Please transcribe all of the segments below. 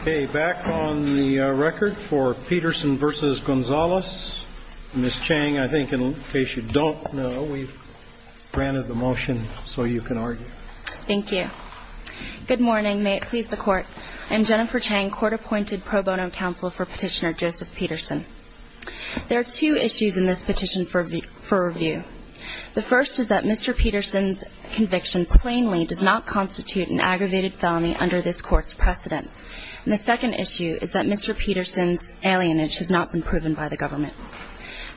Okay, back on the record for Peterson v. Gonzales, Ms. Chang, I think in case you don't know, we've granted the motion so you can argue. Thank you. Good morning, may it please the Court. I'm Jennifer Chang, Court-Appointed Pro Bono Counsel for Petitioner Joseph Peterson. There are two issues in this petition for review. The first is that Mr. Peterson's conviction plainly does not constitute an aggravated felony under this Court's precedence. And the second issue is that Mr. Peterson's alienage has not been proven by the government.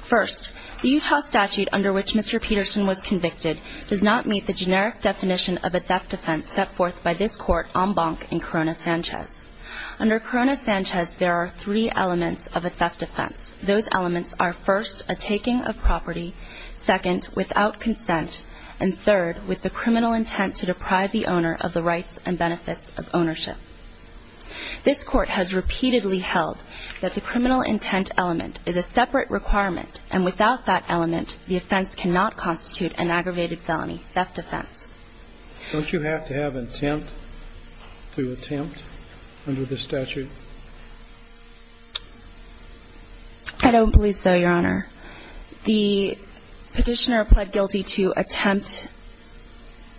First, the Utah statute under which Mr. Peterson was convicted does not meet the generic definition of a theft offense set forth by this Court en banc in Corona Sanchez. Under Corona Sanchez, there are three elements of a theft offense. Those elements are, first, a taking of property, second, without consent, and third, with the criminal intent to deprive the owner of the rights and benefits of ownership. This Court has repeatedly held that the criminal intent element is a separate requirement, and without that element, the offense cannot constitute an aggravated felony theft offense. Don't you have to have intent to attempt under the statute? I don't believe so, Your Honor. The Petitioner pled guilty to attempt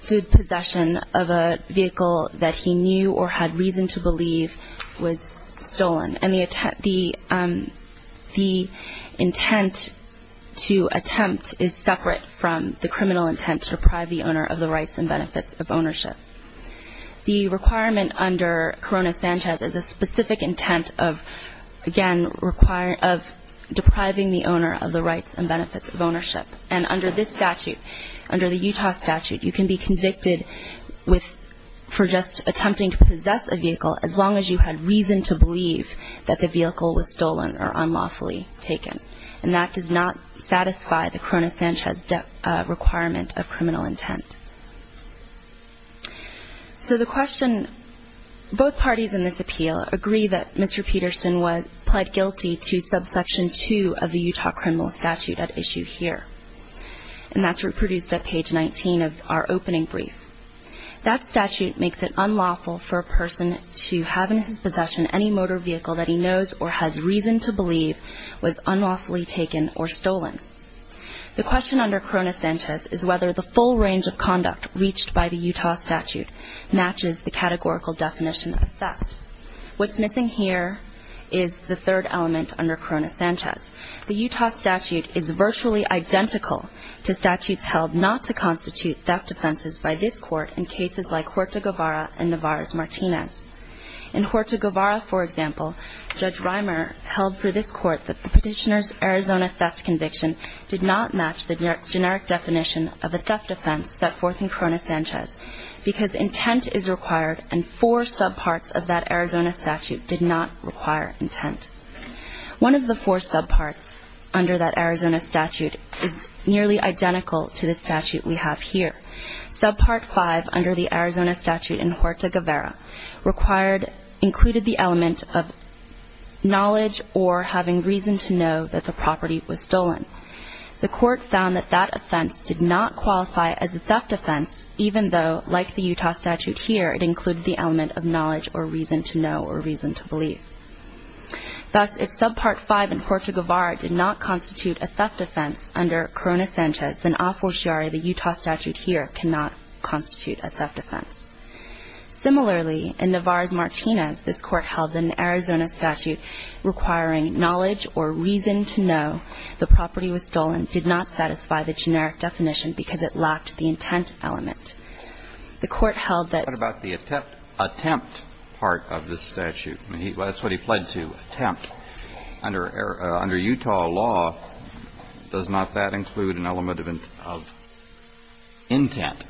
to possession of a vehicle that he knew or had reason to believe was stolen. And the intent to attempt is separate from the criminal intent to deprive the owner of the rights and benefits of ownership. The requirement under Corona Sanchez is a specific intent of, again, of depriving the owner of the rights and benefits of ownership. And under this statute, under the Utah statute, you can be convicted for just attempting to possess a vehicle as long as you had reason to believe that the vehicle was stolen or unlawfully taken. And that does not satisfy the Corona Sanchez requirement of criminal intent. So the question, both parties in this appeal agree that Mr. Peterson pled guilty to subsection 2 of the Utah criminal statute at issue here. And that's reproduced at page 19 of our opening brief. That statute makes it unlawful for a person to have in his possession any motor vehicle that he knows or has reason to believe was unlawfully taken or stolen. The question under Corona Sanchez is whether the full range of conduct reached by the Utah statute matches the categorical definition of theft. What's missing here is the third element under Corona Sanchez. The Utah statute is virtually identical to statutes held not to constitute theft offenses by this court in cases like Horta-Guevara and Navarrez-Martinez. In Horta-Guevara, for example, Judge Rimer held for this court that the petitioner's Arizona theft conviction did not match the generic definition of a theft offense set forth in Corona Sanchez because intent is required and four subparts of that Arizona statute did not require intent. One of the four subparts under that Arizona statute is nearly identical to the statute we have here. Subpart five under the Arizona statute in Horta-Guevara included the element of knowledge or having reason to know that the property was stolen. The court found that that offense did not qualify as a theft offense even though, like the Utah statute here, it included the element of knowledge or reason to know or reason to believe. Thus, if subpart five in Horta-Guevara did not constitute a theft offense under Corona Sanchez, then a fortiori the Utah statute here cannot constitute a theft offense. Similarly, in Navarrez-Martinez, this court held that an Arizona statute requiring knowledge or reason to know the property was stolen did not satisfy the generic definition because it lacked the intent element. The court held that... What about the attempt part of this statute? That's what he pled to, attempt. Under Utah law, does not that include an element of intent?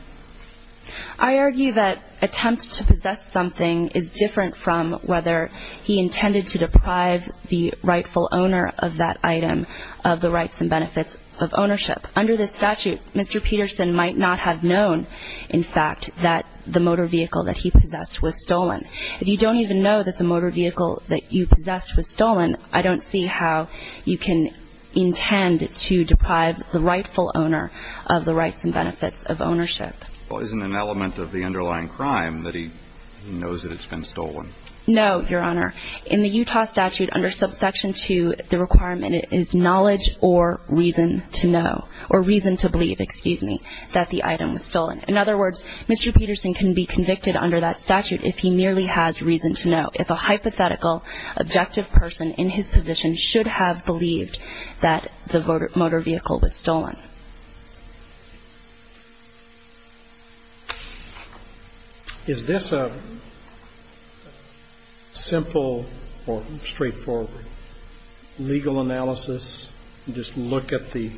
I argue that attempt to possess something is different from whether he intended to deprive the rightful owner of that item of the rights and benefits of ownership. Under this statute, Mr. Peterson might not have known, in fact, that the motor vehicle that he possessed was stolen. If you don't even know that the motor vehicle that you possessed was stolen, I don't see how you can intend to deprive the rightful owner of the rights and benefits of ownership. Well, isn't an element of the underlying crime that he knows that it's been stolen? No, Your Honor. In the Utah statute under subsection 2, the requirement is knowledge or reason to know, or reason to believe, excuse me, that the item was stolen. In other words, Mr. Peterson can be convicted under that statute if he merely has reason to know. If a hypothetical, objective person in his position should have believed that the motor vehicle was stolen. Is this a simple or straightforward legal analysis, just look at the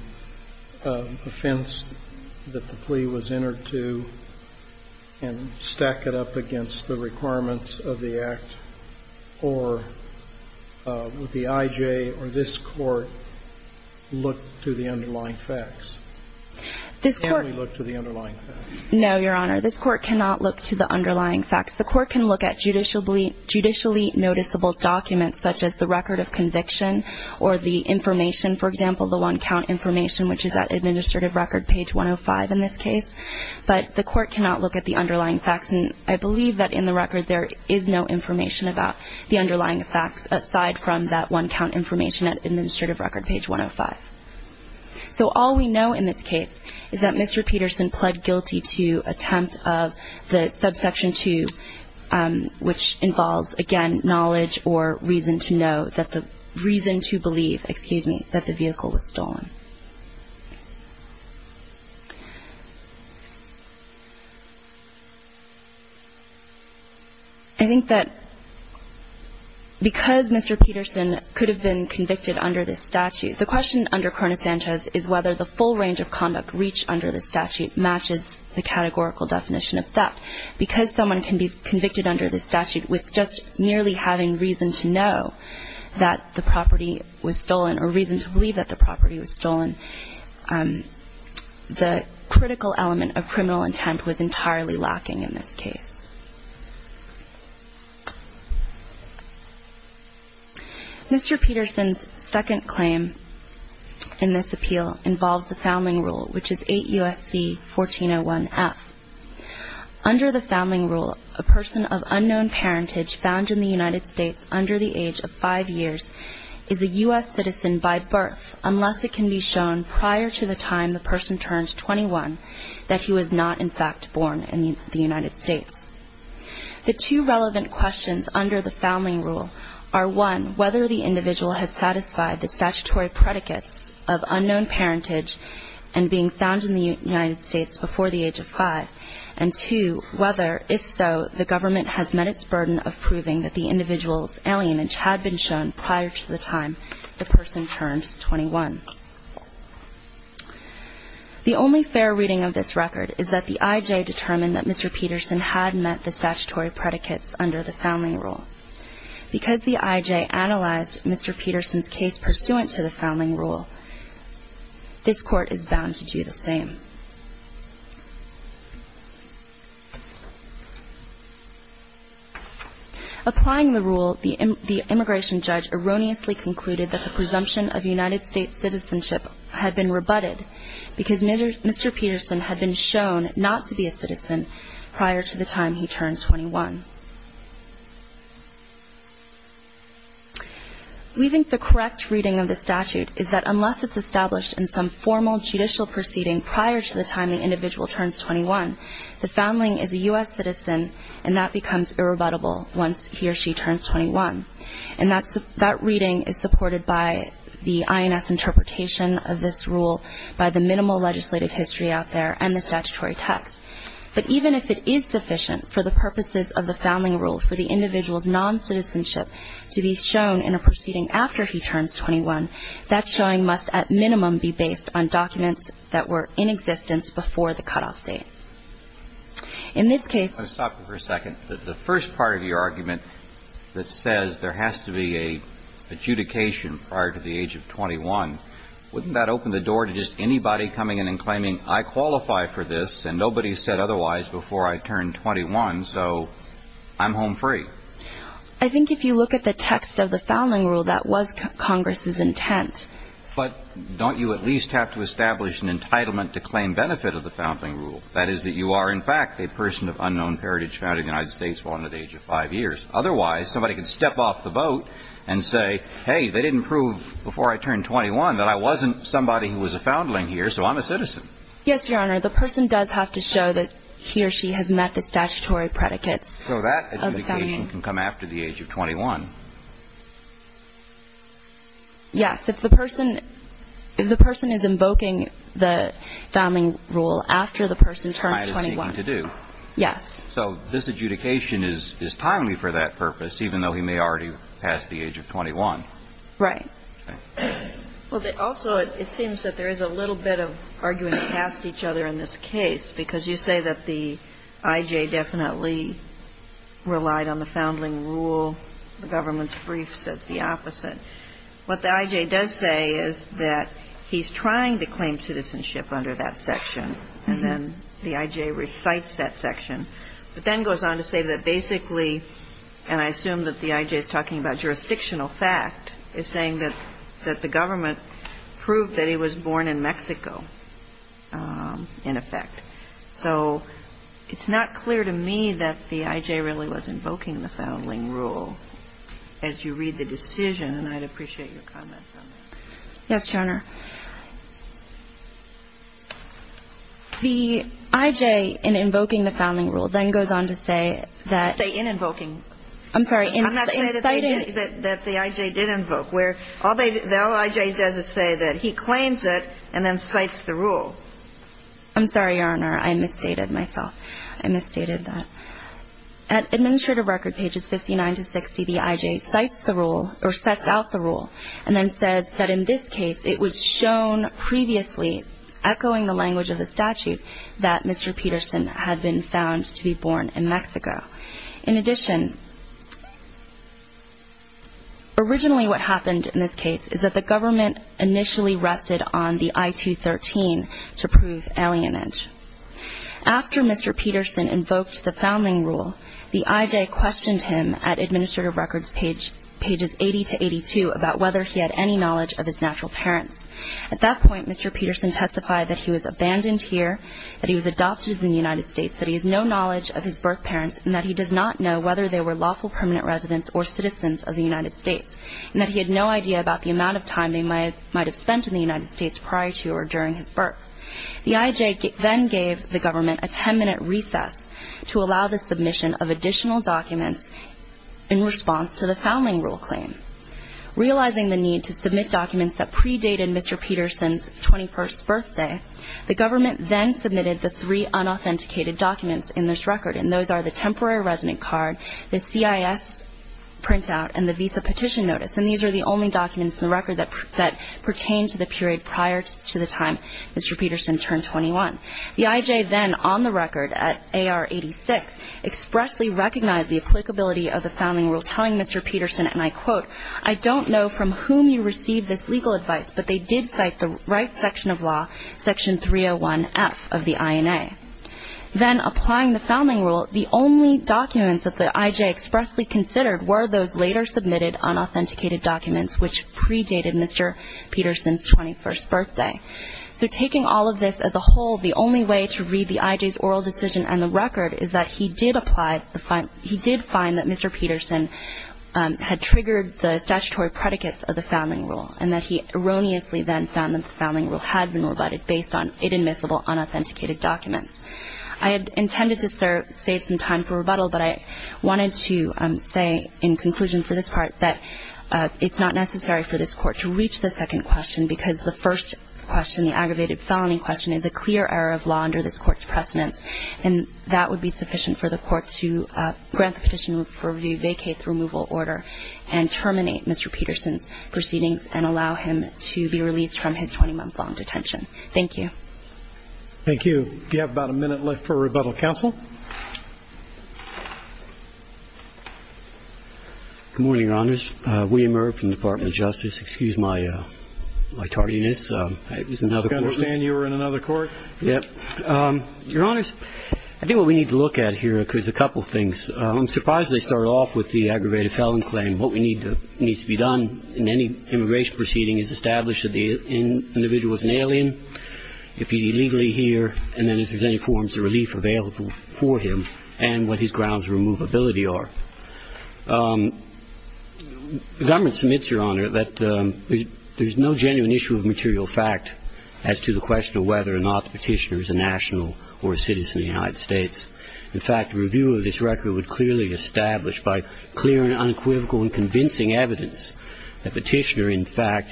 offense that the plea was entered to and stack it up against the requirements of the act, or would the I.J. or this Court look to the underlying facts? This Court. Or merely look to the underlying facts? No, Your Honor. This Court cannot look to the underlying facts. The Court can look at judicially noticeable documents such as the record of conviction or the information, for example, the one-count information, which is at administrative record page 105 in this case. But the Court cannot look at the underlying facts. And I believe that in the record there is no information about the underlying facts aside from that one-count information at administrative record page 105. So all we know in this case is that Mr. Peterson pled guilty to attempt of the subsection 2, which involves, again, knowledge or reason to know that the reason to believe, excuse me, that the vehicle was stolen. I think that because Mr. Peterson could have been convicted under this statute, the question under Cronus Sanchez is whether the full range of conduct reached under the statute matches the categorical definition of theft. Because someone can be convicted under this statute with just merely having reason to know that the property was stolen or reason to believe that the property was stolen, the critical element of criminal intent was entirely lacking in this case. Mr. Peterson's second claim in this appeal involves the founding rule, which is 8 U.S.C. 1401F. Under the founding rule, a person of unknown parentage found in the United States under the age of 5 years is a U.S. citizen by birth, unless it can be shown prior to the time the person turns 21 that he was not, in fact, born in the United States. The two relevant questions under the founding rule are, one, whether the individual has satisfied the statutory predicates of unknown parentage and being found in the United States before the age of 5, and two, whether, if so, the government has met its burden of proving that the individual's alienage had been shown prior to the time the person turned 21. The only fair reading of this record is that the I.J. determined that Mr. Peterson had met the statutory predicates under the founding rule. Because the I.J. analyzed Mr. Peterson's case pursuant to the founding rule, this Court is bound to do the same. Applying the rule, the immigration judge erroneously concluded that the presumption of United States citizenship had been rebutted because Mr. Peterson had been shown not to be a citizen prior to the time he turned 21. We think the correct reading of the statute is that unless it's established in some formal judicial proceeding prior to the time the individual turns 21, the foundling is a U.S. citizen, and that becomes irrebuttable once he or she turns 21. And that reading is supported by the INS interpretation of this rule, by the minimal legislative history out there, and the statutory text. But even if it is sufficient for the purposes of the founding rule for the individual's noncitizenship to be shown in a proceeding after he turns 21, that showing must at minimum be based on documents that were in existence before the cutoff date. In this case — Let me stop you for a second. The first part of your argument that says there has to be an adjudication prior to the age of 21, wouldn't that open the door to just anybody coming in and claiming, I qualify for this and nobody said otherwise before I turned 21, so I'm home free? I think if you look at the text of the founding rule, that was Congress's intent. But don't you at least have to establish an entitlement to claim benefit of the founding rule? That is, that you are, in fact, a person of unknown heritage found in the United States born at the age of 5 years. Otherwise, somebody could step off the boat and say, hey, they didn't prove before I turned 21 that I wasn't somebody who was a foundling here, so I'm a citizen. Yes, Your Honor. The person does have to show that he or she has met the statutory predicates of the family. So that adjudication can come after the age of 21. Yes. If the person, if the person is invoking the founding rule after the person turns 21. Trying to see what to do. Yes. So this adjudication is timely for that purpose, even though he may already have passed the age of 21. Right. Okay. Also, it seems that there is a little bit of arguing past each other in this case, because you say that the I.J. definitely relied on the founding rule, the government's brief says the opposite. What the I.J. does say is that he's trying to claim citizenship under that section, and then the I.J. recites that section, but then goes on to say that basically, and I assume that the I.J. is talking about jurisdictional fact, is saying that the government proved that he was born in Mexico, in effect. So it's not clear to me that the I.J. really was invoking the founding rule, as you read the decision, and I'd appreciate your comments on that. Yes, Your Honor. The I.J. in invoking the founding rule then goes on to say that. Say in invoking. I'm sorry, in citing. I'm not saying that the I.J. did invoke, where all the I.J. does is say that he claims it and then cites the rule. I'm sorry, Your Honor. I misstated myself. I misstated that. At Administrative Record pages 59 to 60, the I.J. cites the rule, or sets out the rule, and then says that in this case, it was shown previously, echoing the language of the statute, that Mr. Peterson had been found to be born in Mexico. In addition, originally what happened in this case is that the government initially rested on the I.213, to prove alienage. After Mr. Peterson invoked the founding rule, the I.J. questioned him at Administrative Records pages 80 to 82 about whether he had any knowledge of his natural parents. At that point, Mr. Peterson testified that he was abandoned here, that he was adopted in the United States, that he has no knowledge of his birth parents, and that he does not know whether they were lawful permanent residents or citizens of the United States, and that he had no idea about the amount of time they might have spent in the United States prior to or during his birth. The I.J. then gave the government a ten-minute recess to allow the submission of additional documents in response to the founding rule claim. Realizing the need to submit documents that predated Mr. Peterson's 21st birthday, the government then submitted the three unauthenticated documents in this record, and those are the temporary resident card, the C.I.S. printout, and the visa petition notice, and these are the only documents in the record that pertain to the period prior to the time Mr. Peterson turned 21. The I.J. then, on the record at A.R. 86, expressly recognized the applicability of the founding rule, telling Mr. Peterson, and I quote, I don't know from whom you received this legal advice, but they did cite the right section of law, Section 301F of the I.N.A. Then, applying the founding rule, the only documents that the I.J. expressly considered were those later submitted unauthenticated documents which predated Mr. Peterson's 21st birthday. So taking all of this as a whole, the only way to read the I.J.'s oral decision and the record is that he did find that Mr. Peterson had triggered the statutory predicates of the founding rule and that he erroneously then found that the founding rule had been rebutted based on inadmissible, unauthenticated documents. I had intended to save some time for rebuttal, but I wanted to say in conclusion for this part that it's not necessary for this Court to reach the second question because the first question, the aggravated felony question, is a clear error of law under this Court's precedence, and that would be sufficient for the Court to grant the petition for review, vacate the removal order, and terminate Mr. Peterson's proceedings and allow him to be released from his 20-month-long detention. Thank you. Thank you. We have about a minute left for rebuttal. Counsel? Good morning, Your Honors. William Irv from the Department of Justice. Excuse my tardiness. I was in another court. I understand you were in another court. Yes. Your Honors, I think what we need to look at here is a couple of things. I'm surprised they started off with the aggravated felony claim. What we need to be done in any immigration proceeding is establish that the individual is an alien, if he's illegally here, and then if there's any forms of relief available for him, and what his grounds of removability are. The government submits, Your Honor, that there's no genuine issue of material fact as to the question of whether or not the petitioner is a national or a citizen of the United States. In fact, a review of this record would clearly establish by clear and unequivocal and convincing evidence that the petitioner, in fact,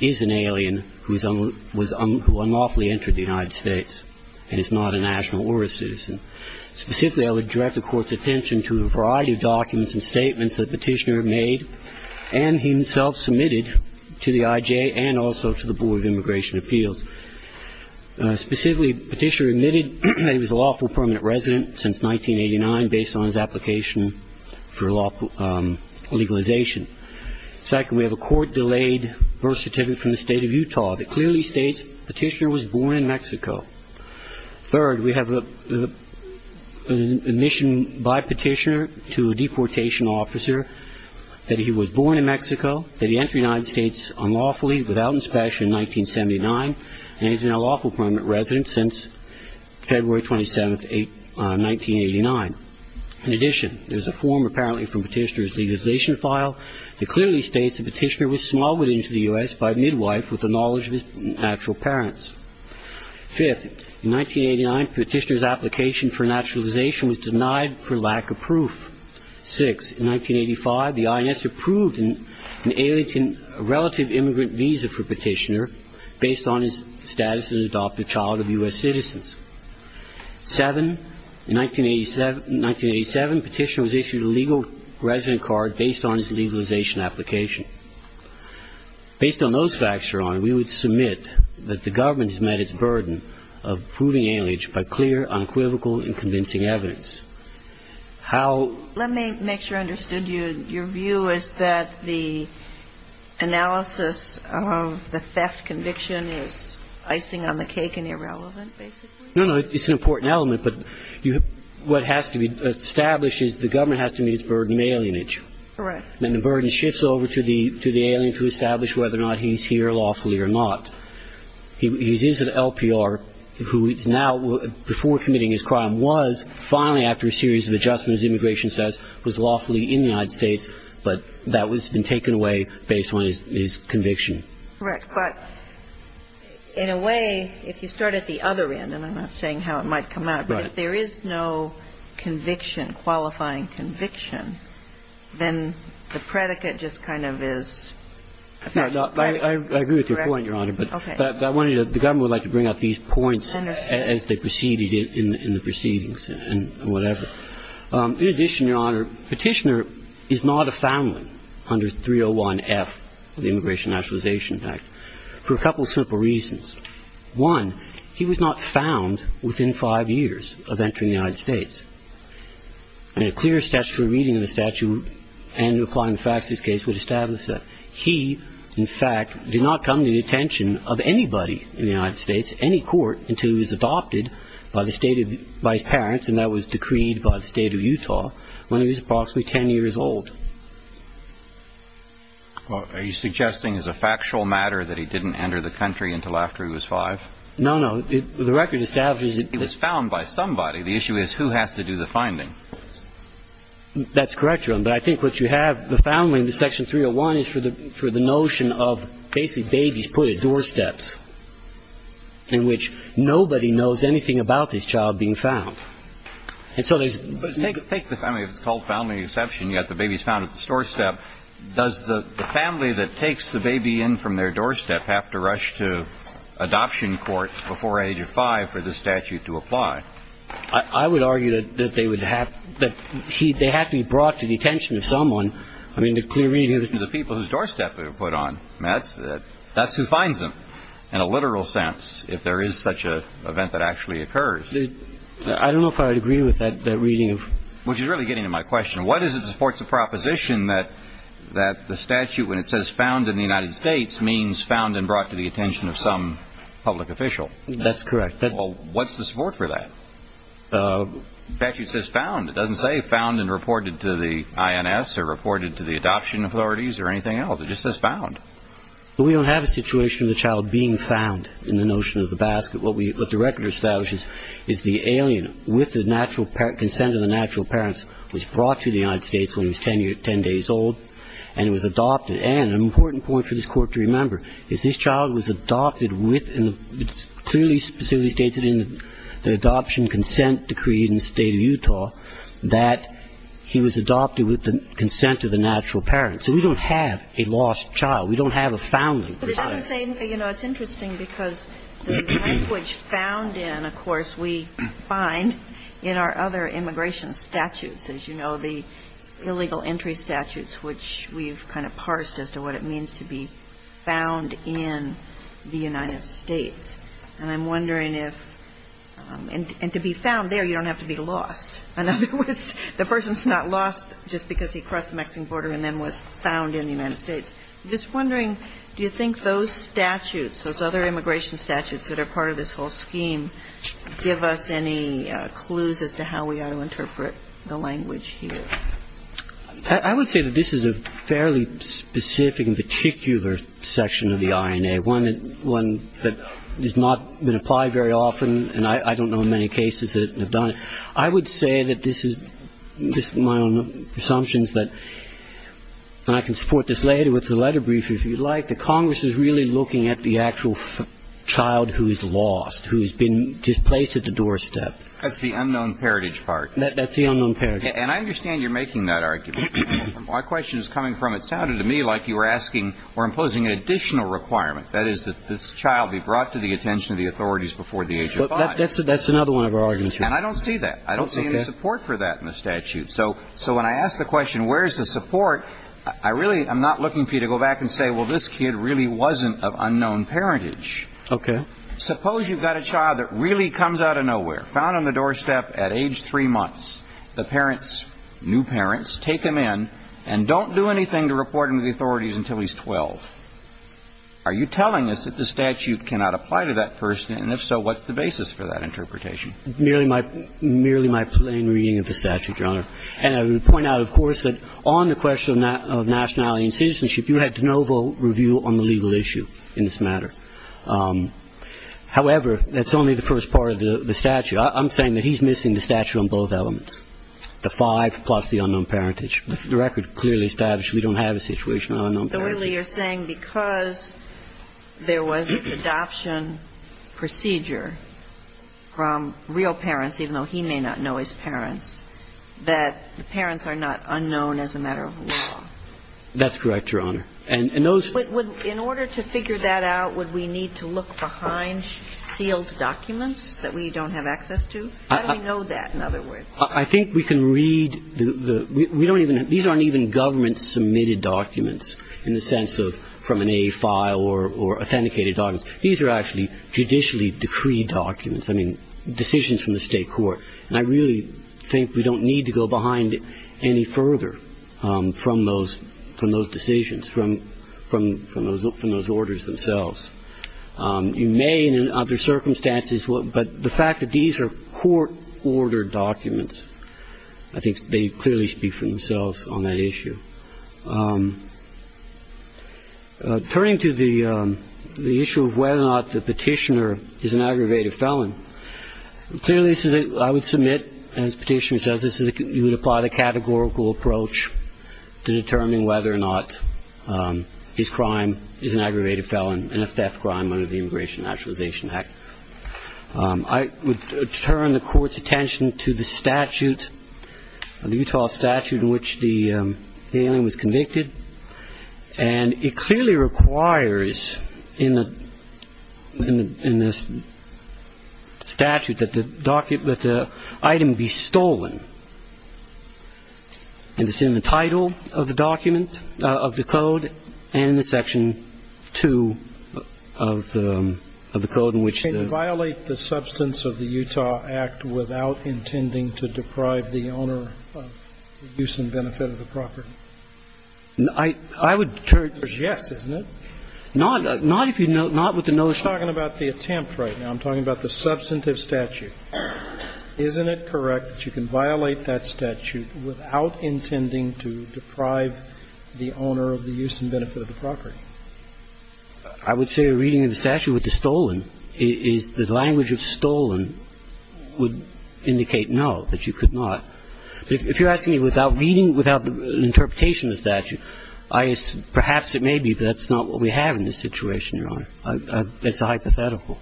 is an alien who unlawfully entered the United States and is not a national or a citizen. Specifically, I would direct the Court's attention to a variety of documents and statements that the petitioner made and himself submitted to the IJ and also to the Board of Immigration Appeals. Specifically, the petitioner admitted that he was a lawful permanent resident since 1989 based on his application for legalization. Second, we have a court-delayed birth certificate from the State of Utah that clearly states the petitioner was born in Mexico. Third, we have an admission by petitioner to a deportation officer that he was born in Mexico, that he entered the United States unlawfully without inspection in 1979, and he's been a lawful permanent resident since February 27, 1989. In addition, there's a form apparently from the petitioner's legalization file that clearly states the petitioner was smuggled into the U.S. by a midwife with the knowledge of his natural parents. Fifth, in 1989, the petitioner's application for naturalization was denied for lack of proof. Sixth, in 1985, the INS approved an alienating relative immigrant visa for petitioner based on his status as an adoptive child of U.S. citizens. Seventh, in 1987, petitioner was issued a legal resident card based on his legalization application. Based on those facts, Your Honor, we would submit that the government has met its burden of proving aliage by clear, unequivocal, and convincing evidence. Let me make sure I understood you. Your view is that the analysis of the theft conviction is icing on the cake and irrelevant, basically? No, no, it's an important element. But what has to be established is the government has to meet its burden of alienage. Correct. And the burden shifts over to the alien to establish whether or not he's here lawfully or not. He is an LPR who is now, before committing his crime, was, finally after a series of adjustments, immigration status, was lawfully in the United States, but that has been taken away based on his conviction. Correct. But in a way, if you start at the other end, and I'm not saying how it might come out, but if there is no conviction, qualifying conviction, then the predicate just kind of is, in effect, I agree with your point, Your Honor. Okay. But the government would like to bring out these points as they proceeded in the proceedings and whatever. In addition, Your Honor, Petitioner is not a foundling under 301F of the Immigration and Naturalization Act for a couple simple reasons. One, he was not found within five years of entering the United States. And a clear statutory reading of the statute and applying the facts of this case would establish that. He, in fact, did not come to the attention of anybody in the United States, any court, until he was adopted by his parents, and that was decreed by the State of Utah, when he was approximately 10 years old. Are you suggesting as a factual matter that he didn't enter the country until after he was five? No, no. The record establishes that he was found by somebody. The issue is who has to do the finding. That's correct, Your Honor. But I think what you have, the foundling in Section 301 is for the notion of basically babies put at doorsteps, in which nobody knows anything about this child being found. And so there's no ---- But take the family, if it's called foundling exception, you've got the babies found at the doorstep. Does the family that takes the baby in from their doorstep have to rush to adoption court before age of five for this statute to apply? I would argue that they would have to be brought to the attention of someone. I mean, the clear reading is the people whose doorstep they were put on. That's who finds them, in a literal sense, if there is such an event that actually occurs. I don't know if I would agree with that reading. Which is really getting to my question. What is it that supports the proposition that the statute, when it says found in the United States, means found and brought to the attention of some public official? That's correct. Well, what's the support for that? The statute says found. It doesn't say found and reported to the INS or reported to the adoption authorities or anything else. It just says found. We don't have a situation of the child being found in the notion of the basket. What the record establishes is the alien, with the consent of the natural parents, was brought to the United States when he was 10 days old and was adopted. And an important point for this Court to remember is this child was adopted with, and it clearly specifically states it in the adoption consent decree in the State of Utah, that he was adopted with the consent of the natural parents. So we don't have a lost child. We don't have a foundling. But it doesn't say, you know, it's interesting because the language found in, of course, we find in our other immigration statutes, as you know, the illegal entry statutes, which we've kind of parsed as to what it means to be found in the United States. And I'm wondering if, and to be found there, you don't have to be lost. In other words, the person's not lost just because he crossed the Mexican border and then was found in the United States. I'm just wondering, do you think those statutes, those other immigration statutes that are part of this whole scheme, give us any clues as to how we ought to interpret the language here? I would say that this is a fairly specific and particular section of the INA, one that has not been applied very often, and I don't know many cases that have done it. I would say that this is my own assumptions, and I can support this later with the letter brief, if you'd like, that Congress is really looking at the actual child who is lost, who has been displaced at the doorstep. That's the unknown parentage part. That's the unknown parentage. And I understand you're making that argument. My question is coming from it sounded to me like you were asking or imposing an additional requirement. That is, that this child be brought to the attention of the authorities before the age of 5. That's another one of our arguments. And I don't see that. I don't see any support for that in the statute. So when I ask the question, where's the support, I really am not looking for you to go back and say, well, this kid really wasn't of unknown parentage. Okay. Suppose you've got a child that really comes out of nowhere, found on the doorstep at age 3 months. The parents, new parents, take him in and don't do anything to report him to the authorities until he's 12. Are you telling us that the statute cannot apply to that person? And if so, what's the basis for that interpretation? Merely my plain reading of the statute, Your Honor. And I would point out, of course, that on the question of nationality and citizenship, you had de novo review on the legal issue in this matter. However, that's only the first part of the statute. I'm saying that he's missing the statute on both elements, the five plus the unknown parentage. The record clearly establishes we don't have a situation of unknown parentage. So really you're saying because there was this adoption procedure from real parents, even though he may not know his parents, that the parents are not unknown as a matter of law? That's correct, Your Honor. And those... In order to figure that out, would we need to look behind sealed documents that we don't have access to? How do we know that, in other words? I think we can read the – we don't even – these aren't even government-submitted documents in the sense of from an A file or authenticated documents. These are actually judicially-decreed documents, I mean, decisions from the state court. And I really think we don't need to go behind any further from those decisions, from those orders themselves. You may, in other circumstances, but the fact that these are court-ordered documents, I think they clearly speak for themselves on that issue. Turning to the issue of whether or not the petitioner is an aggravated felon, clearly I would submit, as the petitioner says, you would apply the categorical approach to determining whether or not his crime is an aggravated felon and a theft crime under the Immigration and Naturalization Act. I would turn the Court's attention to the statute, the Utah statute, in which the alien was convicted. And it clearly requires in the statute that the item be stolen. And it's in the title of the document, of the code, and in Section 2 of the code in which the ---- Can you violate the substance of the Utah Act without intending to deprive the owner of the use and benefit of the property? I would turn to the statute. Yes, isn't it? Not if you know ---- You're talking about the attempt right now. I'm talking about the substantive statute. Isn't it correct that you can violate that statute without intending to deprive the owner of the use and benefit of the property? I would say a reading of the statute with the stolen is the language of stolen would indicate no, that you could not. If you're asking me without reading, without an interpretation of the statute, perhaps it may be that's not what we have in this situation, Your Honor. It's a hypothetical.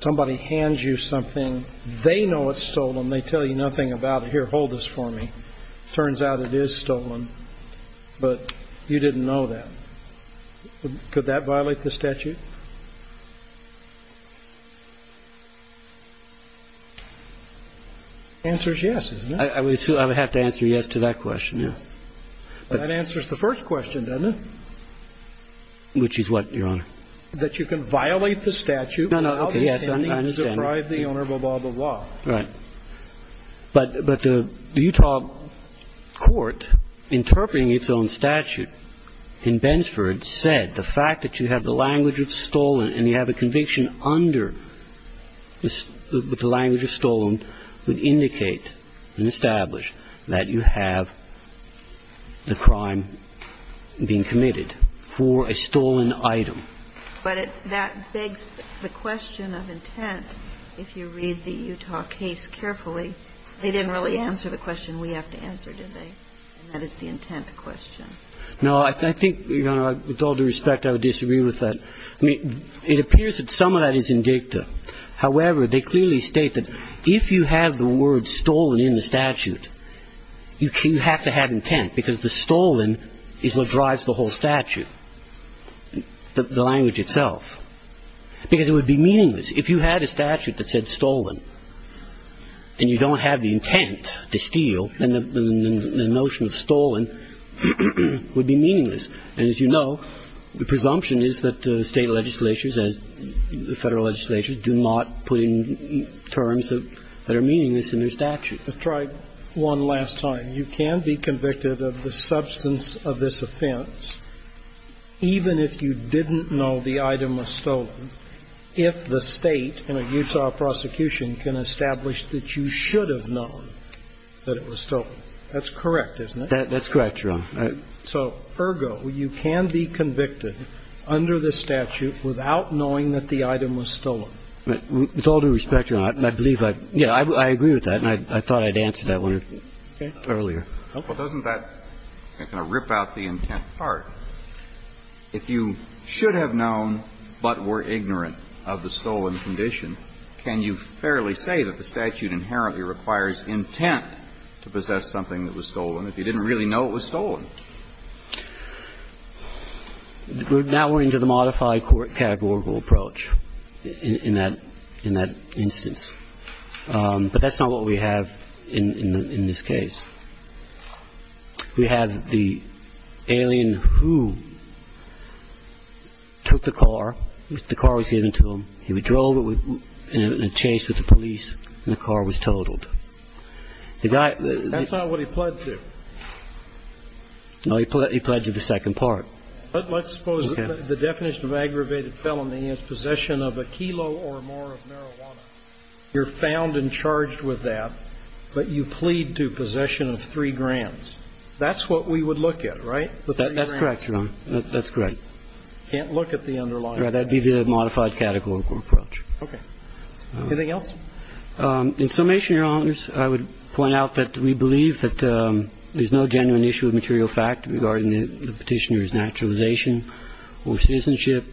Somebody hands you something. They know it's stolen. They tell you nothing about it. Here, hold this for me. It turns out it is stolen, but you didn't know that. Could that violate the statute? The answer is yes, isn't it? I would have to answer yes to that question, yes. That answers the first question, doesn't it? Which is what, Your Honor? That you can violate the statute without intending to deprive the owner, blah, blah, blah. Right. But the Utah court interpreting its own statute in Bensford said the fact that you have the language of stolen and you have a conviction under the language of stolen would indicate and establish that you have the crime being committed for a stolen item. But that begs the question of intent. If you read the Utah case carefully, they didn't really answer the question we have to answer, did they? And that is the intent question. No, I think, Your Honor, with all due respect, I would disagree with that. I mean, it appears that some of that is indicative. However, they clearly state that if you have the word stolen in the statute, you have to have intent, because the stolen is what drives the whole statute, the language itself. Because it would be meaningless. If you had a statute that said stolen and you don't have the intent to steal, then the notion of stolen would be meaningless. And as you know, the presumption is that the State legislatures, as the Federal legislatures, do not put in terms that are meaningless in their statutes. I tried one last time. You can be convicted of the substance of this offense even if you didn't know the item was stolen, if the State in a Utah prosecution can establish that you should have known that it was stolen. That's correct, isn't it? That's correct, Your Honor. So, ergo, you can be convicted under this statute without knowing that the item was stolen. With all due respect, Your Honor, I believe I agree with that, and I thought I'd answered that one earlier. Well, doesn't that kind of rip out the intent part? If you should have known but were ignorant of the stolen condition, can you fairly say that the statute inherently requires intent to possess something that was stolen if you didn't really know it was stolen? Now we're into the modified court categorical approach in that instance. But that's not what we have in this case. We have the alien who took the car. The car was given to him. He drove it in a chase with the police, and the car was totaled. That's not what he pled to. No, he pled to the second part. Let's suppose the definition of aggravated felony is possession of a kilo or more of marijuana. You're found and charged with that, but you plead to possession of three grams. That's what we would look at, right? That's correct, Your Honor. That's correct. Can't look at the underlying. That would be the modified categorical approach. Okay. Anything else? In summation, Your Honors, I would point out that we believe that there's no genuine issue of material fact regarding the Petitioner's naturalization or citizenship.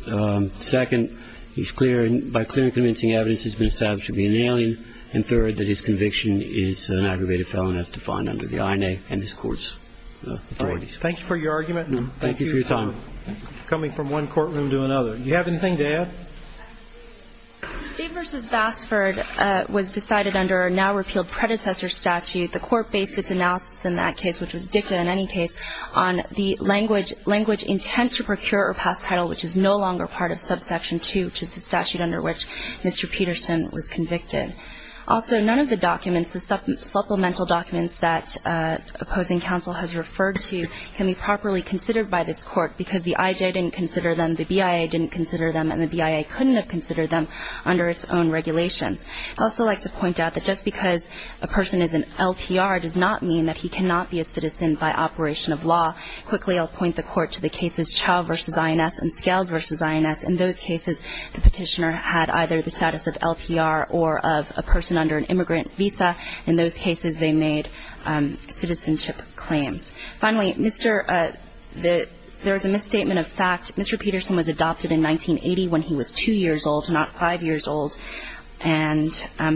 Second, he's clear and by clear and convincing evidence he's been established to be an alien. And third, that his conviction is an aggravated felony as defined under the INA and this Court's authorities. All right. Thank you for your argument. Thank you for your time. We're coming from one courtroom to another. Do you have anything to add? Steve v. Bassford was decided under a now-repealed predecessor statute. The Court based its analysis in that case, which was dicta in any case, on the language intent to procure or pass title, which is no longer part of subsection 2, which is the statute under which Mr. Peterson was convicted. Also, none of the documents, supplemental documents that opposing counsel has referred to can be properly considered by this Court because the IJ didn't consider them, the BIA didn't consider them, and the BIA couldn't have considered them under its own regulations. I'd also like to point out that just because a person is an LPR does not mean that he cannot be a citizen by operation of law. Quickly, I'll point the Court to the cases Chau v. INS and Scales v. INS. In those cases, the Petitioner had either the status of LPR or of a person under an immigrant visa. In those cases, they made citizenship claims. Finally, there is a misstatement of fact. Mr. Peterson was adopted in 1980 when he was 2 years old, not 5 years old. And I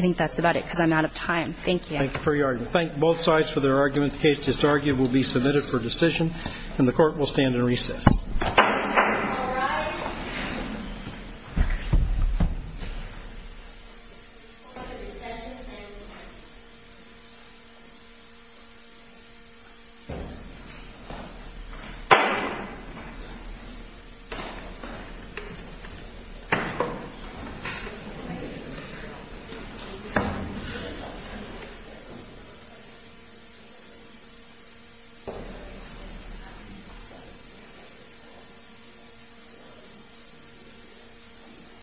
think that's about it because I'm out of time. Thank you. Thank you for your argument. Thank both sides for their arguments. The case disargued will be submitted for decision, and the Court will stand in recess. All rise. Thank you.